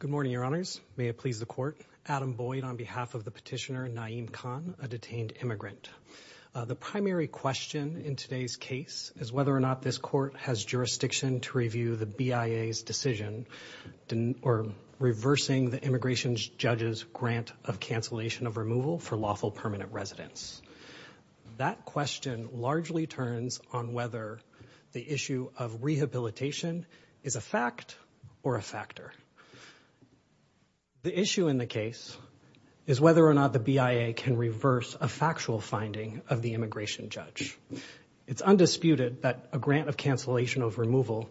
Good morning, your honors. May it please the court. Adam Boyd on behalf of the petitioner Naeem Khan, a detained immigrant. The primary question in today's case is whether or not this court has jurisdiction to review the BIA's decision reversing the immigration judge's grant of cancellation of removal for lawful permanent residents. That question largely turns on whether the issue of rehabilitation is a fact or a factor. The issue in the case is whether or not the BIA can reverse a factual finding of the immigration judge. It's undisputed that a grant of cancellation of removal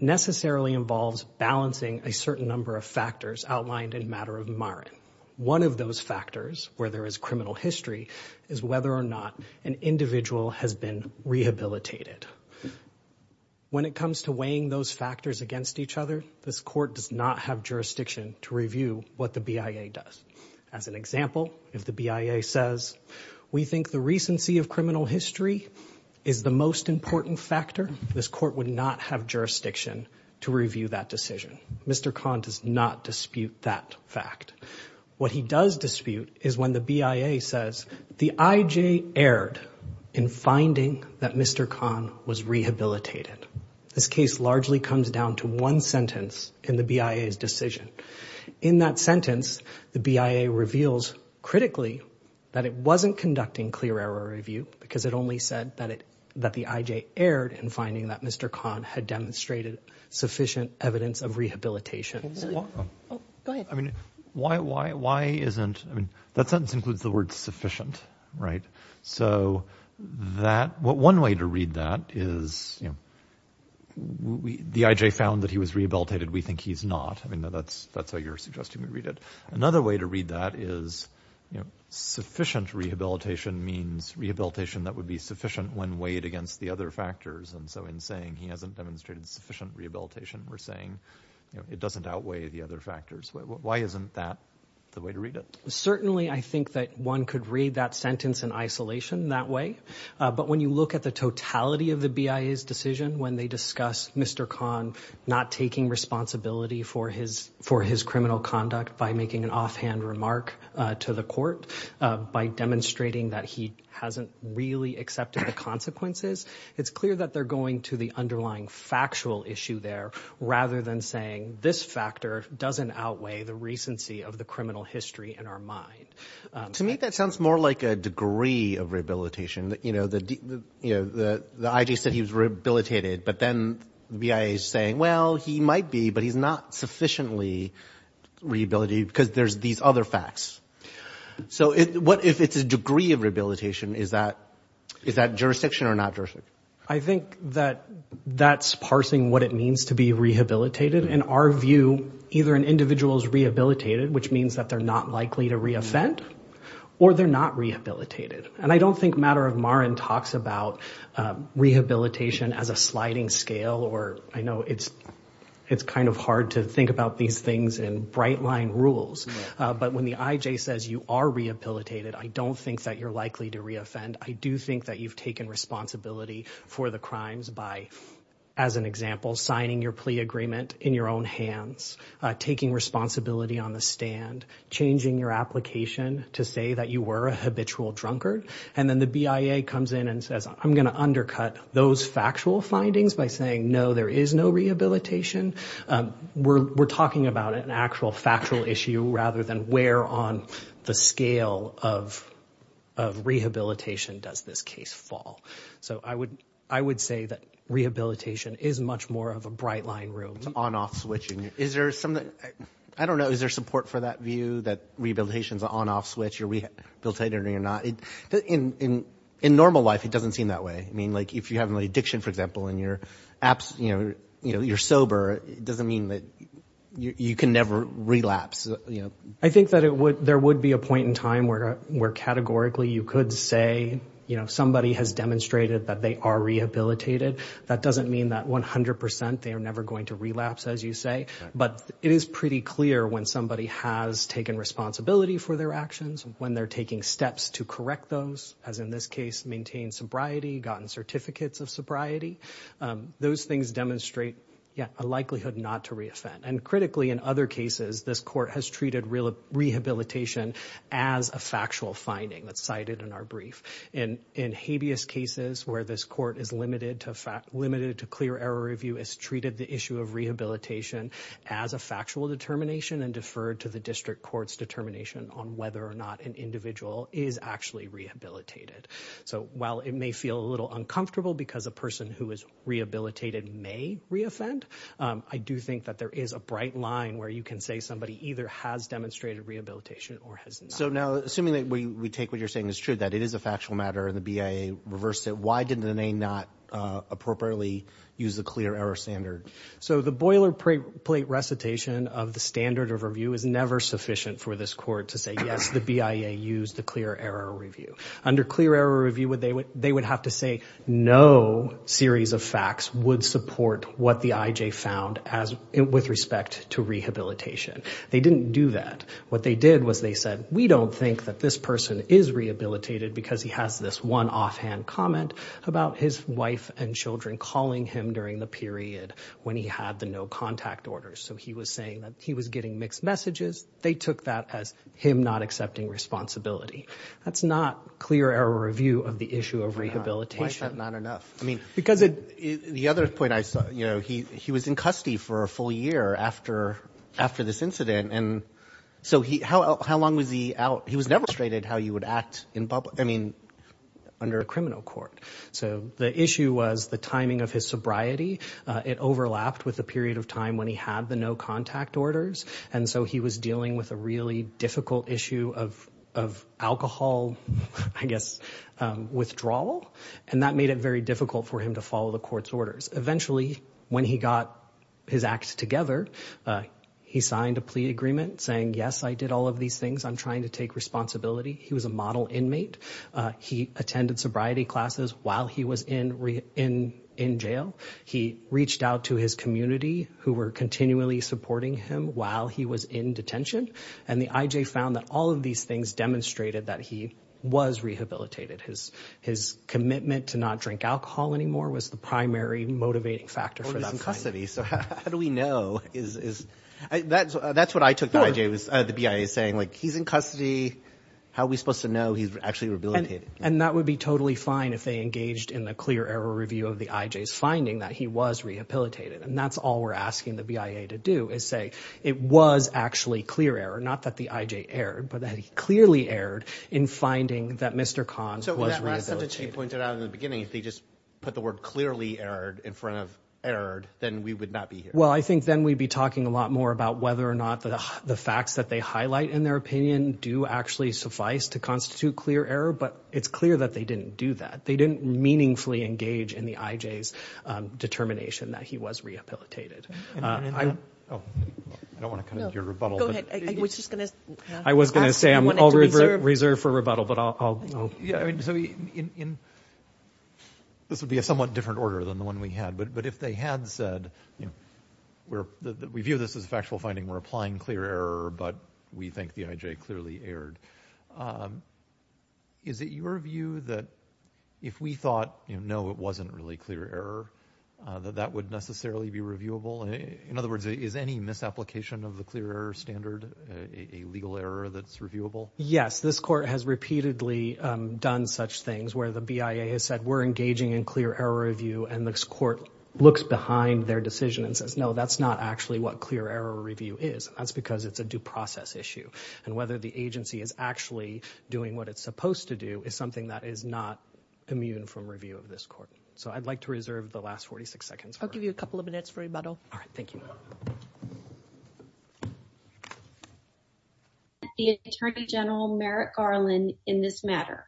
necessarily involves balancing a certain number of factors outlined in Matter of Marin. One of those factors where there is criminal history is whether or not an individual has been rehabilitated. When it comes to weighing those factors against each other, this court does not have jurisdiction to review what the BIA does. As an example, if the BIA says, we think the recency of criminal history is the most important factor, this court would not have jurisdiction to review that decision. Mr. Khan does not dispute that fact. What he does dispute is when the BIA says, the IJ erred in finding that Mr. Khan was rehabilitated. This case largely comes down to one sentence in the BIA's decision. In that sentence, the BIA reveals critically that it wasn't conducting clear error review because it only said that the IJ erred in finding that Mr. Khan had demonstrated sufficient evidence of rehabilitation. That sentence includes the word sufficient. One way to read that is, the IJ found that he was rehabilitated. We think he's not. That's how you're suggesting we read it. Another way to read that is, sufficient rehabilitation means rehabilitation that would be sufficient when weighed against the other factors. In saying he hasn't demonstrated sufficient rehabilitation, we're saying it doesn't outweigh the other factors. Why isn't that the way to read it? Certainly, I think that one could read that sentence in isolation that way. But when you look at the totality of the BIA's decision, when they discuss Mr. Khan not taking responsibility for his criminal conduct by making an offhand remark to the court, by demonstrating that he hasn't really accepted the consequences, it's clear that they're going to the underlying factual issue there, rather than saying this factor doesn't outweigh the recency of the criminal history in our mind. To me, that sounds more like a degree of rehabilitation. The IJ said he was rehabilitated, but then the BIA's saying, well, he might be, but he's not sufficiently rehabilitated because there's these other facts. If it's a degree of rehabilitation, is that jurisdiction or not jurisdiction? I think that that's parsing what it means to be rehabilitated. In our view, either an individual is rehabilitated, which means that they're not likely to re-offend, or they're not rehabilitated. And I don't think Matter of Marin talks about rehabilitation as a sliding scale or, I know it's kind of hard to think about these things in bright line rules, but when the IJ says you are rehabilitated, I don't think that you're likely to re-offend. I do think that you've taken responsibility for the crimes by, as an example, signing your plea agreement in your own hands, taking responsibility on the stand, changing your application to say that you were a habitual drunkard. And then the BIA comes in and says, I'm going to undercut those factual findings by saying, no, there is no rehabilitation. We're talking about an actual factual issue rather than where on the scale of rehabilitation does this case fall. So I would say that rehabilitation is much more of a bright line rule. On-off switching. Is there something, I don't know, is there support for that view that rehabilitation is an on-off switch, you're rehabilitated or you're not? In normal life, it doesn't seem that way. I mean, like, if you have an addiction, for example, and you're sober, it doesn't mean that you can never relapse. I think that there would be a point in time where categorically you could say, you know, somebody has demonstrated that they are rehabilitated. That doesn't mean that 100 percent they are never going to relapse, as you say. But it is pretty clear when somebody has taken responsibility for their actions, when they're taking steps to correct those, as in this case, maintain sobriety, gotten certificates of sobriety. Those things demonstrate a likelihood not to reoffend. And critically, in other cases, this court has treated rehabilitation as a factual finding that's cited in our brief. In habeas cases where this court is limited to clear error review, it's treated the issue of rehabilitation as a factual determination and deferred to the district court's determination on whether or not an individual is actually rehabilitated. So while it may feel a little uncomfortable because a person who is rehabilitated may reoffend, I do think that there is a bright line where you can say somebody either has demonstrated rehabilitation or has not. So now, assuming that we take what you're saying is true, that it is a factual matter and the BIA reversed it, why did the BIA not appropriately use the clear error standard? So the boilerplate recitation of the standard of review is never sufficient for this court to say, yes, the BIA used the clear error review. Under clear error review, they would have to say no series of facts would support what the IJ found with respect to rehabilitation. They didn't do that. What they did was they said, we don't think that this person is rehabilitated because he has this one offhand comment about his wife and children calling him during the period when he had the no contact order. So he was saying that he was getting mixed messages. They took that as him not accepting responsibility. That's not clear error review of the issue of rehabilitation. Why is that not enough? I mean, the other point I saw, he was in custody for a full year after this incident. And so how long was he out? He was demonstrated how he would act in public, I mean, under a criminal court. So the issue was the timing of his sobriety. It overlapped with the period of time when he had the no contact orders. And so he was dealing with a really difficult issue of alcohol, I guess, withdrawal. And that made it very difficult for him to follow the court's orders. Eventually, when he got his act together, he signed a plea agreement saying, yes, I did all of these things. I'm trying to take responsibility. He was a model inmate. He was in jail. He reached out to his community who were continually supporting him while he was in detention. And the IJ found that all of these things demonstrated that he was rehabilitated. His commitment to not drink alcohol anymore was the primary motivating factor for that. He was in custody. So how do we know? That's what I took the IJ, the BIA, saying. He's in custody. How are we supposed to know he's actually rehabilitated? And that would be totally fine if they engaged in the clear error review of the IJ's finding that he was rehabilitated. And that's all we're asking the BIA to do is say it was actually clear error, not that the IJ erred, but that he clearly erred in finding that Mr. Khan was rehabilitated. So with that last sentence you pointed out in the beginning, if they just put the word clearly erred in front of erred, then we would not be here. Well, I think then we'd be talking a lot more about whether or not the facts that they didn't do that. They didn't meaningfully engage in the IJ's determination that he was rehabilitated. I don't want to cut into your rebuttal, but I was going to say I'm all reserved for rebuttal, but I'll... This would be a somewhat different order than the one we had, but if they had said, we view this as a factual finding, we're applying clear error, but we think the IJ clearly erred. Is it your view that if we thought, no, it wasn't really clear error, that that would necessarily be reviewable? In other words, is any misapplication of the clear error standard a legal error that's reviewable? Yes. This court has repeatedly done such things where the BIA has said, we're engaging in clear error review, and this court looks behind their decision and says, no, that's not actually what clear error review is. That's because it's a due process issue. And whether the BIA is actually doing what it's supposed to do is something that is not immune from review of this court. So I'd like to reserve the last 46 seconds. I'll give you a couple of minutes for rebuttal. All right. Thank you. The Attorney General Merrick Garland in this matter.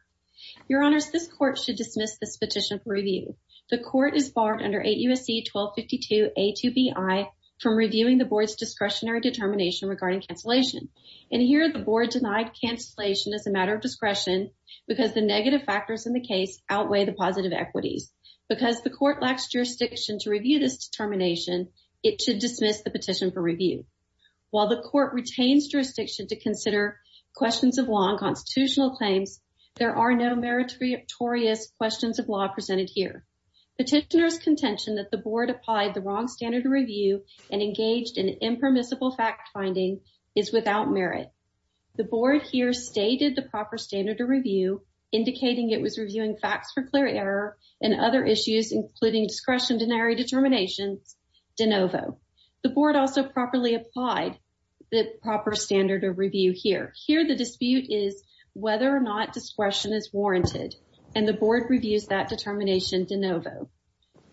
Your Honors, this court should dismiss this petition for review. The court is barred under 8 U.S.C. 1252 A2BI from reviewing the board's discretionary determination regarding cancellation. And here the board denied cancellation as a matter of discretion because the negative factors in the case outweigh the positive equities. Because the court lacks jurisdiction to review this determination, it should dismiss the petition for review. While the court retains jurisdiction to consider questions of law and constitutional claims, there are no meritorious questions of law presented here. Petitioner's contention that the board applied the wrong standard of review and engaged in without merit. The board here stated the proper standard of review, indicating it was reviewing facts for clear error and other issues including discretionary determinations de novo. The board also properly applied the proper standard of review here. Here the dispute is whether or not discretion is warranted. And the board reviews that determination de novo.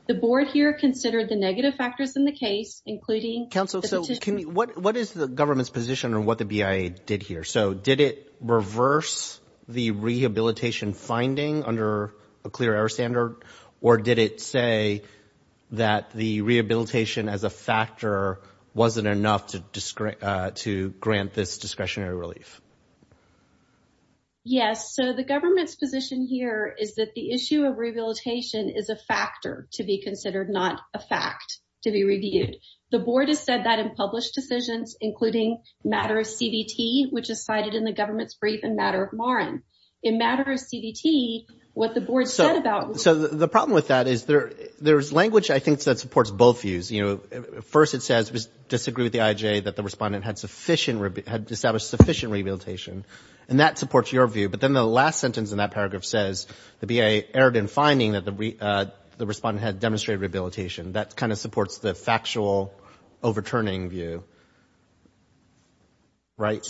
The board here considered the negative factors in the case, including... Let's talk about what the BIA did here. So did it reverse the rehabilitation finding under a clear error standard? Or did it say that the rehabilitation as a factor wasn't enough to grant this discretionary relief? Yes. So the government's position here is that the issue of rehabilitation is a factor to be considered, not a fact to be reviewed. The board has said that in published decisions, including matter of CVT, which is cited in the government's brief in matter of Marin. In matter of CVT, what the board said about... So the problem with that is there's language I think that supports both views. You know, first it says disagree with the IJ that the respondent had established sufficient rehabilitation. And that supports your view. But then the last sentence in that paragraph says the BIA erred in finding that the respondent had demonstrated rehabilitation. That kind of supports the factual overturning view, right?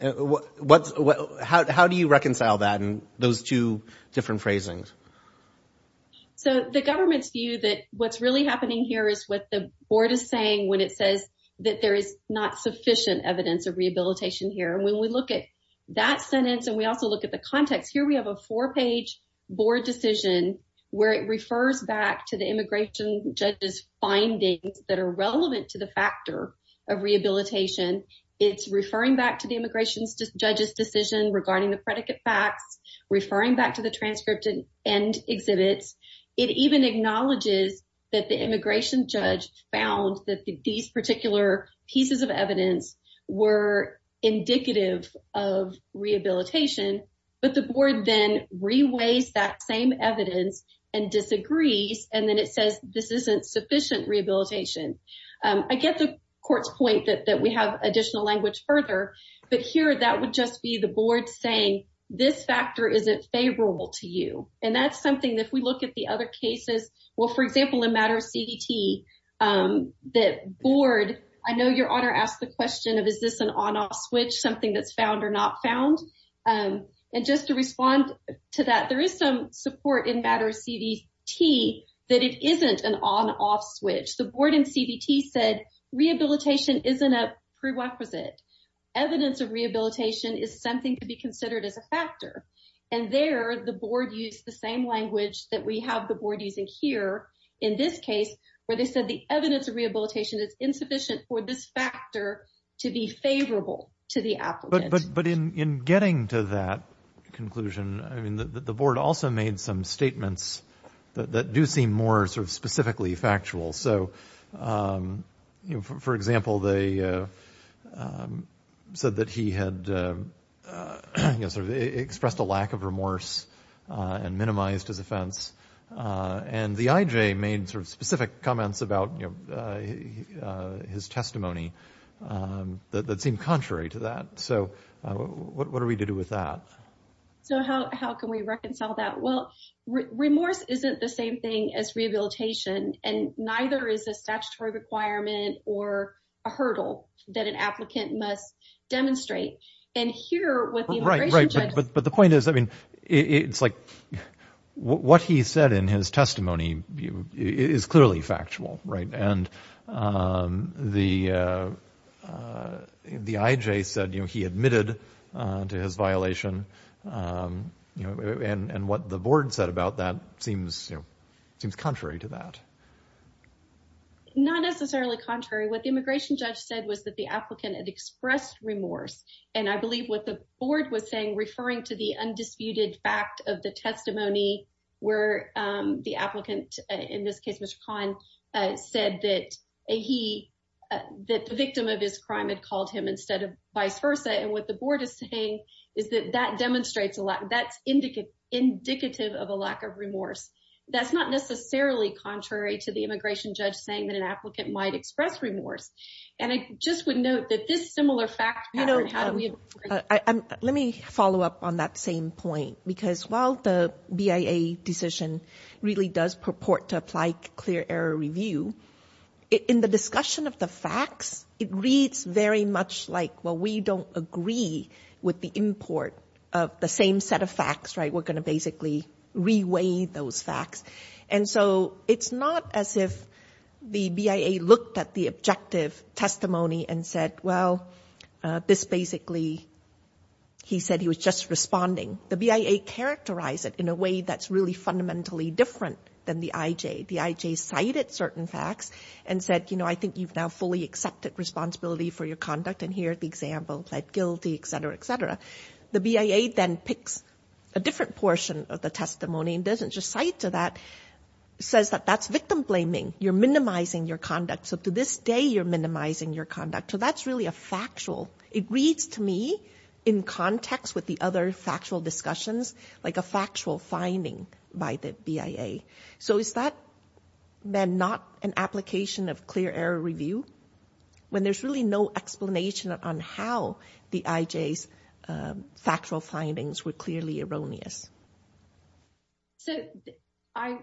How do you reconcile that and those two different phrasings? So the government's view that what's really happening here is what the board is saying when it says that there is not sufficient evidence of rehabilitation here. And when we look at that sentence and we also look at the context, here we have a four-page board decision where it refers back to the immigration judge's findings that are relevant to the factor of rehabilitation. It's referring back to the immigration judge's decision regarding the predicate facts, referring back to the transcript and exhibits. It even acknowledges that the immigration judge found that these particular pieces of evidence were indicative of rehabilitation. But the board then reweighs that same evidence and disagrees and then it says this isn't sufficient rehabilitation. I get the court's point that we have additional language further, but here that would just be the board saying this factor isn't favorable to you. And that's something that if we look at the other cases, well, for example, in matter of CDT, the board, I know your honor asked the question of is this an on-off switch, something that's found or not found. And just to respond to that, there is some support in matter of CDT that it isn't an on-off switch. The board in CDT said rehabilitation isn't a prerequisite. Evidence of rehabilitation is something to be considered as a factor. And there the board used the same language that we have the board using here in this case where they said the evidence of rehabilitation is insufficient for this factor to be favorable to the applicant. But in getting to that conclusion, I mean, the board also made some statements that do seem more sort of specifically factual. So for example, they said that he had sort of expressed a lack of remorse and minimized his offense. And the IJ made sort of specific comments about, you know, his testimony that seemed contrary to that. So what are we to do with that? So how can we reconcile that? Well, remorse isn't the same thing as rehabilitation. And neither is a statutory requirement or a hurdle that an applicant must demonstrate. And here what the immigration judge... What he said in his testimony is clearly factual, right? And the IJ said, you know, he admitted to his violation. And what the board said about that seems, you know, seems contrary to that. Not necessarily contrary. What the immigration judge said was that the applicant had expressed remorse. And I believe what the board was saying, referring to the undisputed fact of the testimony where the applicant, in this case, Mr. Kahn, said that he, that the victim of his crime had called him instead of vice versa. And what the board is saying is that that demonstrates, that's indicative of a lack of remorse. That's not necessarily contrary to the immigration judge saying that an applicant might express remorse. And I just would note that this similar fact pattern... You know, let me follow up on that same point. Because while the BIA decision really does purport to apply clear error review, in the discussion of the facts, it reads very much like, well, we don't agree with the import of the same set of facts, right? We're going to basically re-weigh those facts. And so it's not as if the BIA looked at the objective testimony and said, well, this basically, he said he was just responding. The BIA characterized it in a way that's really fundamentally different than the IJ. The IJ cited certain facts and said, you know, I think you've now fully accepted responsibility for your conduct. And here, the example, pled guilty, et cetera, et cetera. The BIA then picks a different portion of the testimony and doesn't just cite to that, says that that's victim blaming. You're minimizing your conduct. So to this day, you're minimizing your conduct. So that's really a factual... It reads to me, in context with the other factual discussions, like a factual finding by the BIA. So is that then not an application of clear error review? When there's really no explanation on how the IJ's factual findings were clearly erroneous. So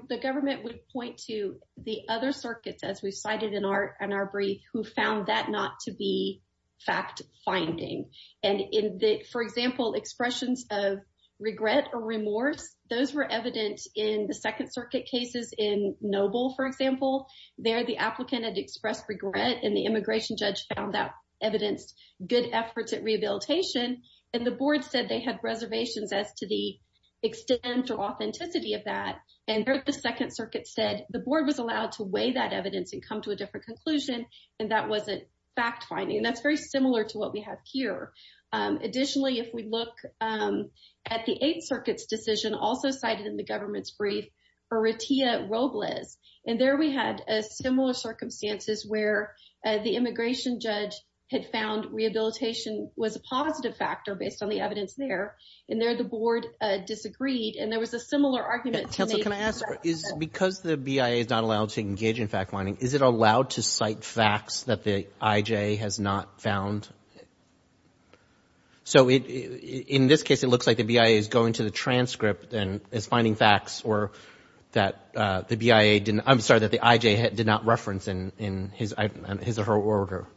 the government would point to the other circuits, as we cited in our brief, who found that not to be fact-finding. And in the, for example, expressions of regret or remorse, those were evident in the Second Circuit cases in Noble, for example. There, the applicant had expressed regret, and the immigration judge found that evidenced good efforts at rehabilitation. And the board said they had reservations as to the extent or authenticity of that. And there, the Second Circuit said, the board was allowed to weigh that evidence and come to a different conclusion. And that wasn't fact-finding. And that's very similar to what we have here. Additionally, if we look at the Eighth Circuit's decision, also cited in the government's brief, for Retia Robles. And there we had similar circumstances where the immigration judge had found rehabilitation was a positive factor based on the evidence there. And there, the board disagreed. And there was a similar argument to make— Counsel, can I ask, because the BIA is not allowed to engage in fact-finding, is it allowed to cite facts that the IJ has not found? So in this case, it looks like the BIA is going to the transcript and is finding facts that the BIA— I'm sorry, that the IJ did not reference in his or her order.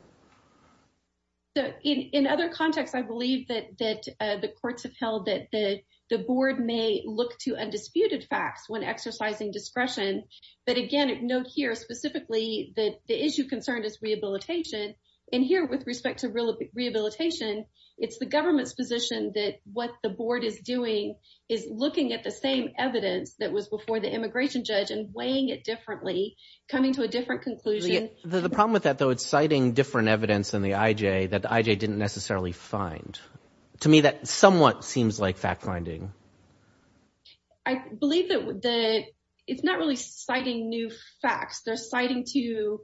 In other contexts, I believe that the courts have held that the board may look to undisputed facts when exercising discretion. But again, note here specifically that the issue concerned is rehabilitation. And here, with respect to rehabilitation, it's the government's position that what the board is doing is looking at the same evidence that was before the immigration judge and weighing it differently, coming to a different conclusion. The problem with that, though, it's citing different evidence than the IJ that the IJ didn't necessarily find. To me, that somewhat seems like fact-finding. I believe that it's not really citing new facts. They're citing to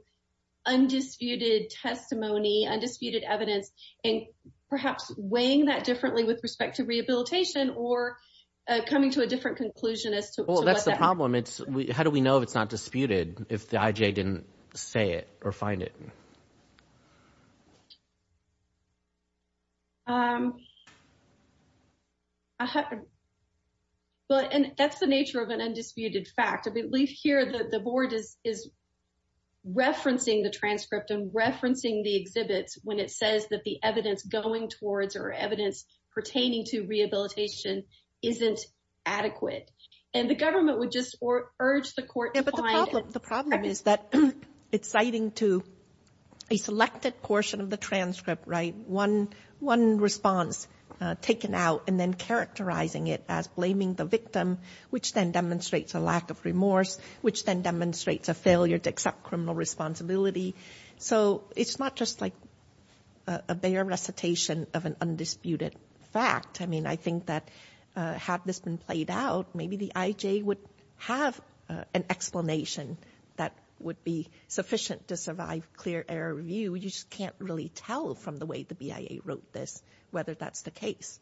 undisputed testimony, undisputed evidence, and perhaps weighing that differently with respect to rehabilitation or coming to a different conclusion as to what that— Well, that's the problem. How do we know if it's not disputed if the IJ didn't say it or find it? Well, and that's the nature of an undisputed fact. I believe here that the board is referencing the transcript and referencing the exhibits when it says that the evidence going towards or evidence pertaining to rehabilitation isn't adequate. And the government would just urge the court to find— But the problem is that it's citing to a selected portion of the transcript, one response taken out and then characterizing it as blaming the victim, which then demonstrates a lack of remorse, which then demonstrates a failure to accept criminal responsibility. So it's not just like a bare recitation of an undisputed fact. I mean, I think that had this been played out, maybe the IJ would have an explanation that would be sufficient to survive clear error review. You just can't really tell from the way the BIA wrote this whether that's the case.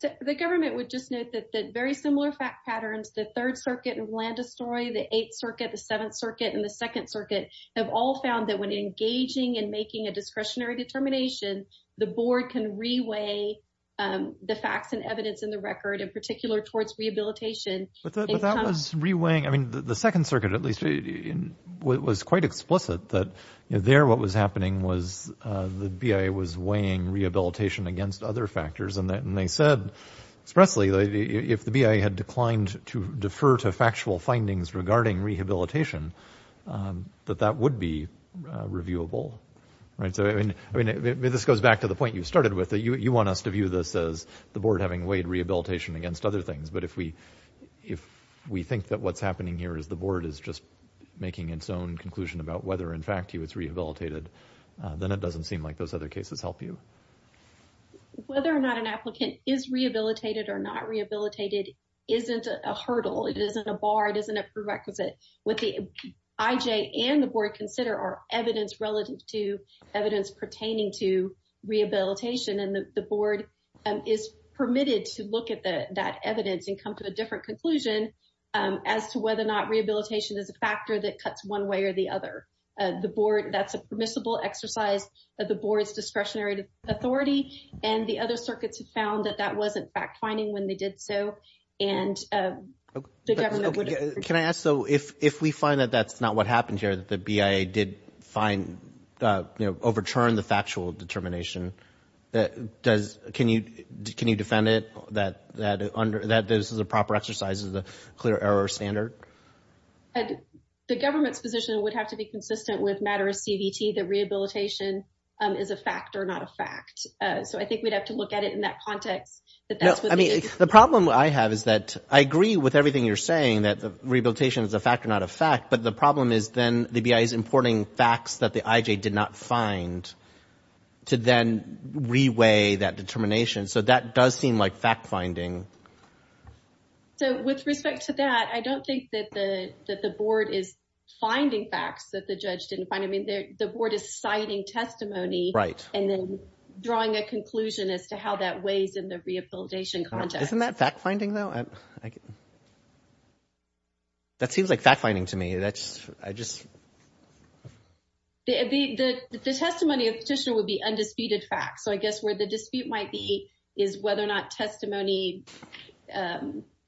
The government would just note that the very similar fact patterns, the Third Circuit in Blandestoy, the Eighth Circuit, the Seventh Circuit, and the Second Circuit have all found that when engaging and making a discretionary determination, the board can reweigh the facts and evidence in the record, in particular towards rehabilitation. But that was reweighing— I mean, the Second Circuit, at least, was quite explicit that there what was happening was the BIA was weighing rehabilitation against other factors. And they said expressly that if the BIA had declined to defer to factual findings regarding rehabilitation, that that would be reviewable. So, I mean, this goes back to the point you started with. You want us to view this as the board having weighed rehabilitation against other things. But if we think that what's happening here is the board is just making its own conclusion about whether, in fact, he was rehabilitated, then it doesn't seem like those other cases help you. Whether or not an applicant is rehabilitated or not rehabilitated isn't a hurdle. It isn't a bar. It isn't a prerequisite. What the IJ and the board consider are evidence relative to evidence pertaining to rehabilitation. And the board is permitted to look at that evidence and come to a different conclusion as to whether or not rehabilitation is a factor that cuts one way or the other. That's a permissible exercise of the board's discretionary authority. And the other circuits have found that that wasn't fact-finding when they did so. And the government would... Can I ask, though, if we find that that's not what happened here, that the BIA did overturn the factual determination, can you defend it? That this is a proper exercise of the clear error standard? The government's position would have to be consistent with matter of CVT that rehabilitation is a factor, not a fact. So I think we'd have to look at it in that context. The problem I have is that I agree with everything you're saying that rehabilitation is a factor, not a fact. But the problem is then the BIA is importing facts that the IJ did not find to then re-weigh that determination. So that does seem like fact-finding. So with respect to that, I don't think that the board is finding facts that the judge didn't find. The board is citing testimony and then drawing a conclusion as to how that weighs in the rehabilitation context. Isn't that fact-finding, though? That seems like fact-finding to me. The testimony of the petitioner would be undisputed fact. So I guess where the dispute might be is whether or not testimony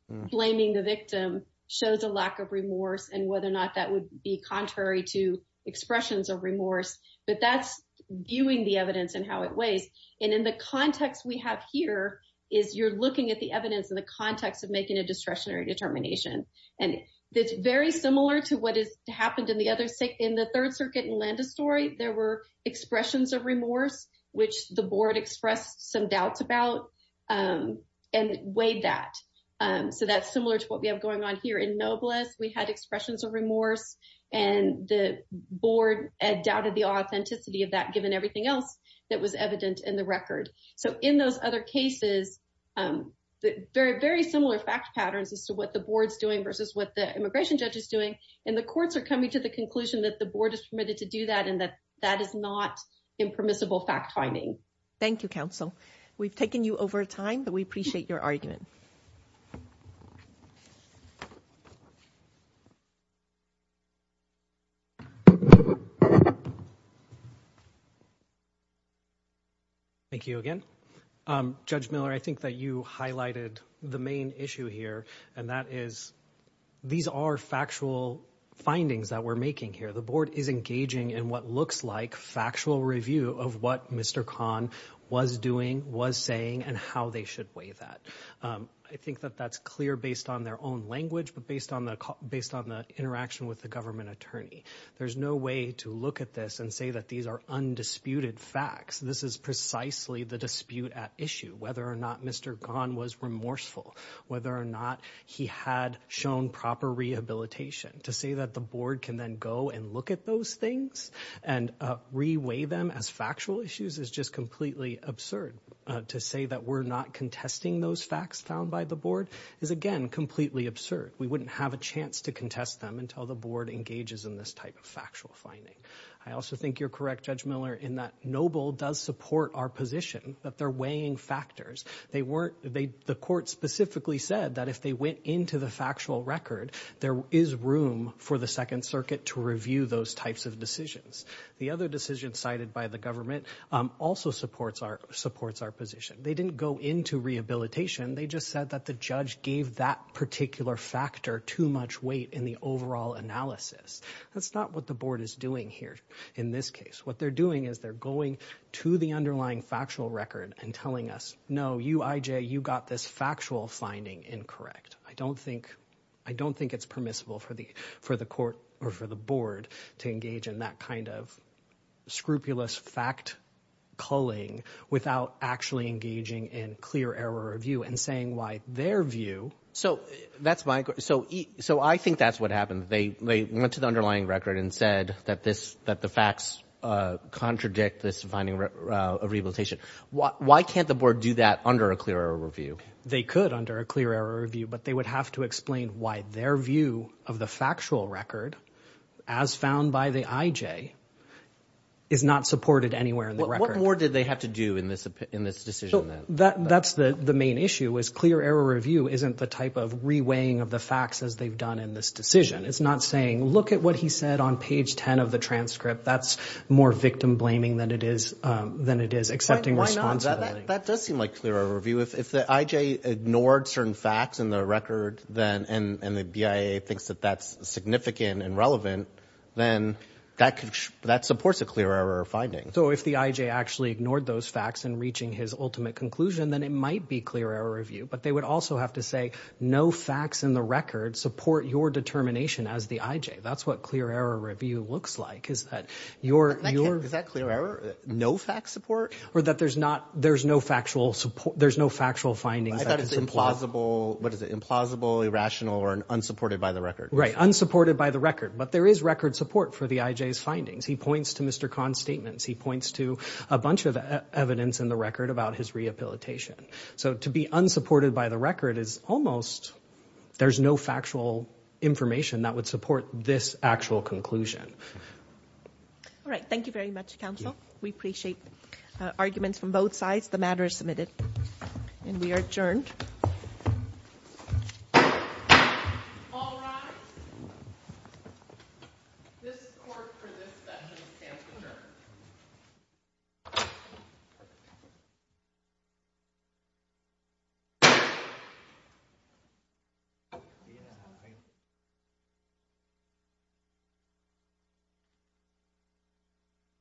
blaming the victim shows a lack of remorse and whether or not that would be contrary to expressions of remorse. But that's viewing the evidence and how it weighs. And in the context we have here is you're looking at the evidence in the context of making a discretionary determination. And it's very similar to what happened in the Third Circuit in Landestory. There were expressions of remorse which the board expressed some doubts about and weighed that. So that's similar to what we have going on here in Noblesse. We had expressions of remorse and the board had doubted the authenticity of that given everything else that was evident in the record. So in those other cases very similar fact patterns as to what the board's doing versus what the immigration judge is doing and the courts are coming to the conclusion that the board is permitted to do that and that that is not impermissible fact-finding. Thank you, counsel. We've taken you over time but we appreciate your argument. Thank you again. Judge Miller, I think that you highlighted the main issue here and that is these are factual findings that we're making here. The board is engaging in what looks like factual review of what Mr. Kahn was doing, was saying and how they should weigh that. I think that that's clear based on their own language but based on the interaction with the government attorney. There's no way to look at this and say that these are undisputed facts. This is precisely the dispute at issue, whether or not Mr. Kahn was remorseful, whether or not he had shown proper rehabilitation. To say that the board can then go and look at those things and re-weigh them as factual issues is just completely absurd. To say that we're not contesting those facts found by the board is again completely absurd. We wouldn't have a chance to contest them until the board engages in this type of factual finding. I also think you're correct, Judge Miller, in that Noble does support our position that they're weighing factors. The court specifically said that if they went into the factual record there is room for the Second Circuit to review those types of decisions. The other decision cited by the government also supports our position. They didn't go into rehabilitation, they just said that the judge gave that particular factor too much weight in the overall analysis. That's not what the board is doing here in this case. What they're doing is they're going to the underlying factual record and telling us, no, you IJ, you got this factual finding incorrect. I don't think it's permissible for the court or for the board to engage in that kind of scrupulous fact culling without actually engaging in clear error of view and saying why their view... I think that's what happened. They went to the underlying record and said that the facts contradict this finding of rehabilitation. Why can't the board do that under a clear error of view? They could under a clear error of view, but they would have to explain why their view of the factual record as found by the IJ is not supported anywhere in the record. What more did they have to do in this decision? That's the main issue, is not saying look at what he said on page 10 of the transcript. That's more victim blaming than it is accepting responsibility. That does seem like clear error of view. If the IJ ignored certain facts in the record and the BIA thinks that that's significant and relevant, then that supports a clear error of finding. If the IJ actually ignored those facts in reaching his ultimate conclusion, then it might be clear error of view, but they would also have to say no facts in the record support your determination as the IJ. That's what clear error of view looks like. Is that clear error? No facts support? Or that there's no factual findings? I thought it was implausible, irrational, or unsupported by the record. Right, unsupported by the record, but there is record support for the IJ's findings. He points to Mr. Kahn's statements. He points to a bunch of evidence in the record about his rehabilitation. To be unsupported by the record is almost... There's no factual information that would support this actual conclusion. All right. Thank you very much, counsel. We appreciate arguments from both sides. The matter is submitted. We are adjourned. All rise. This court for this session stands adjourned..........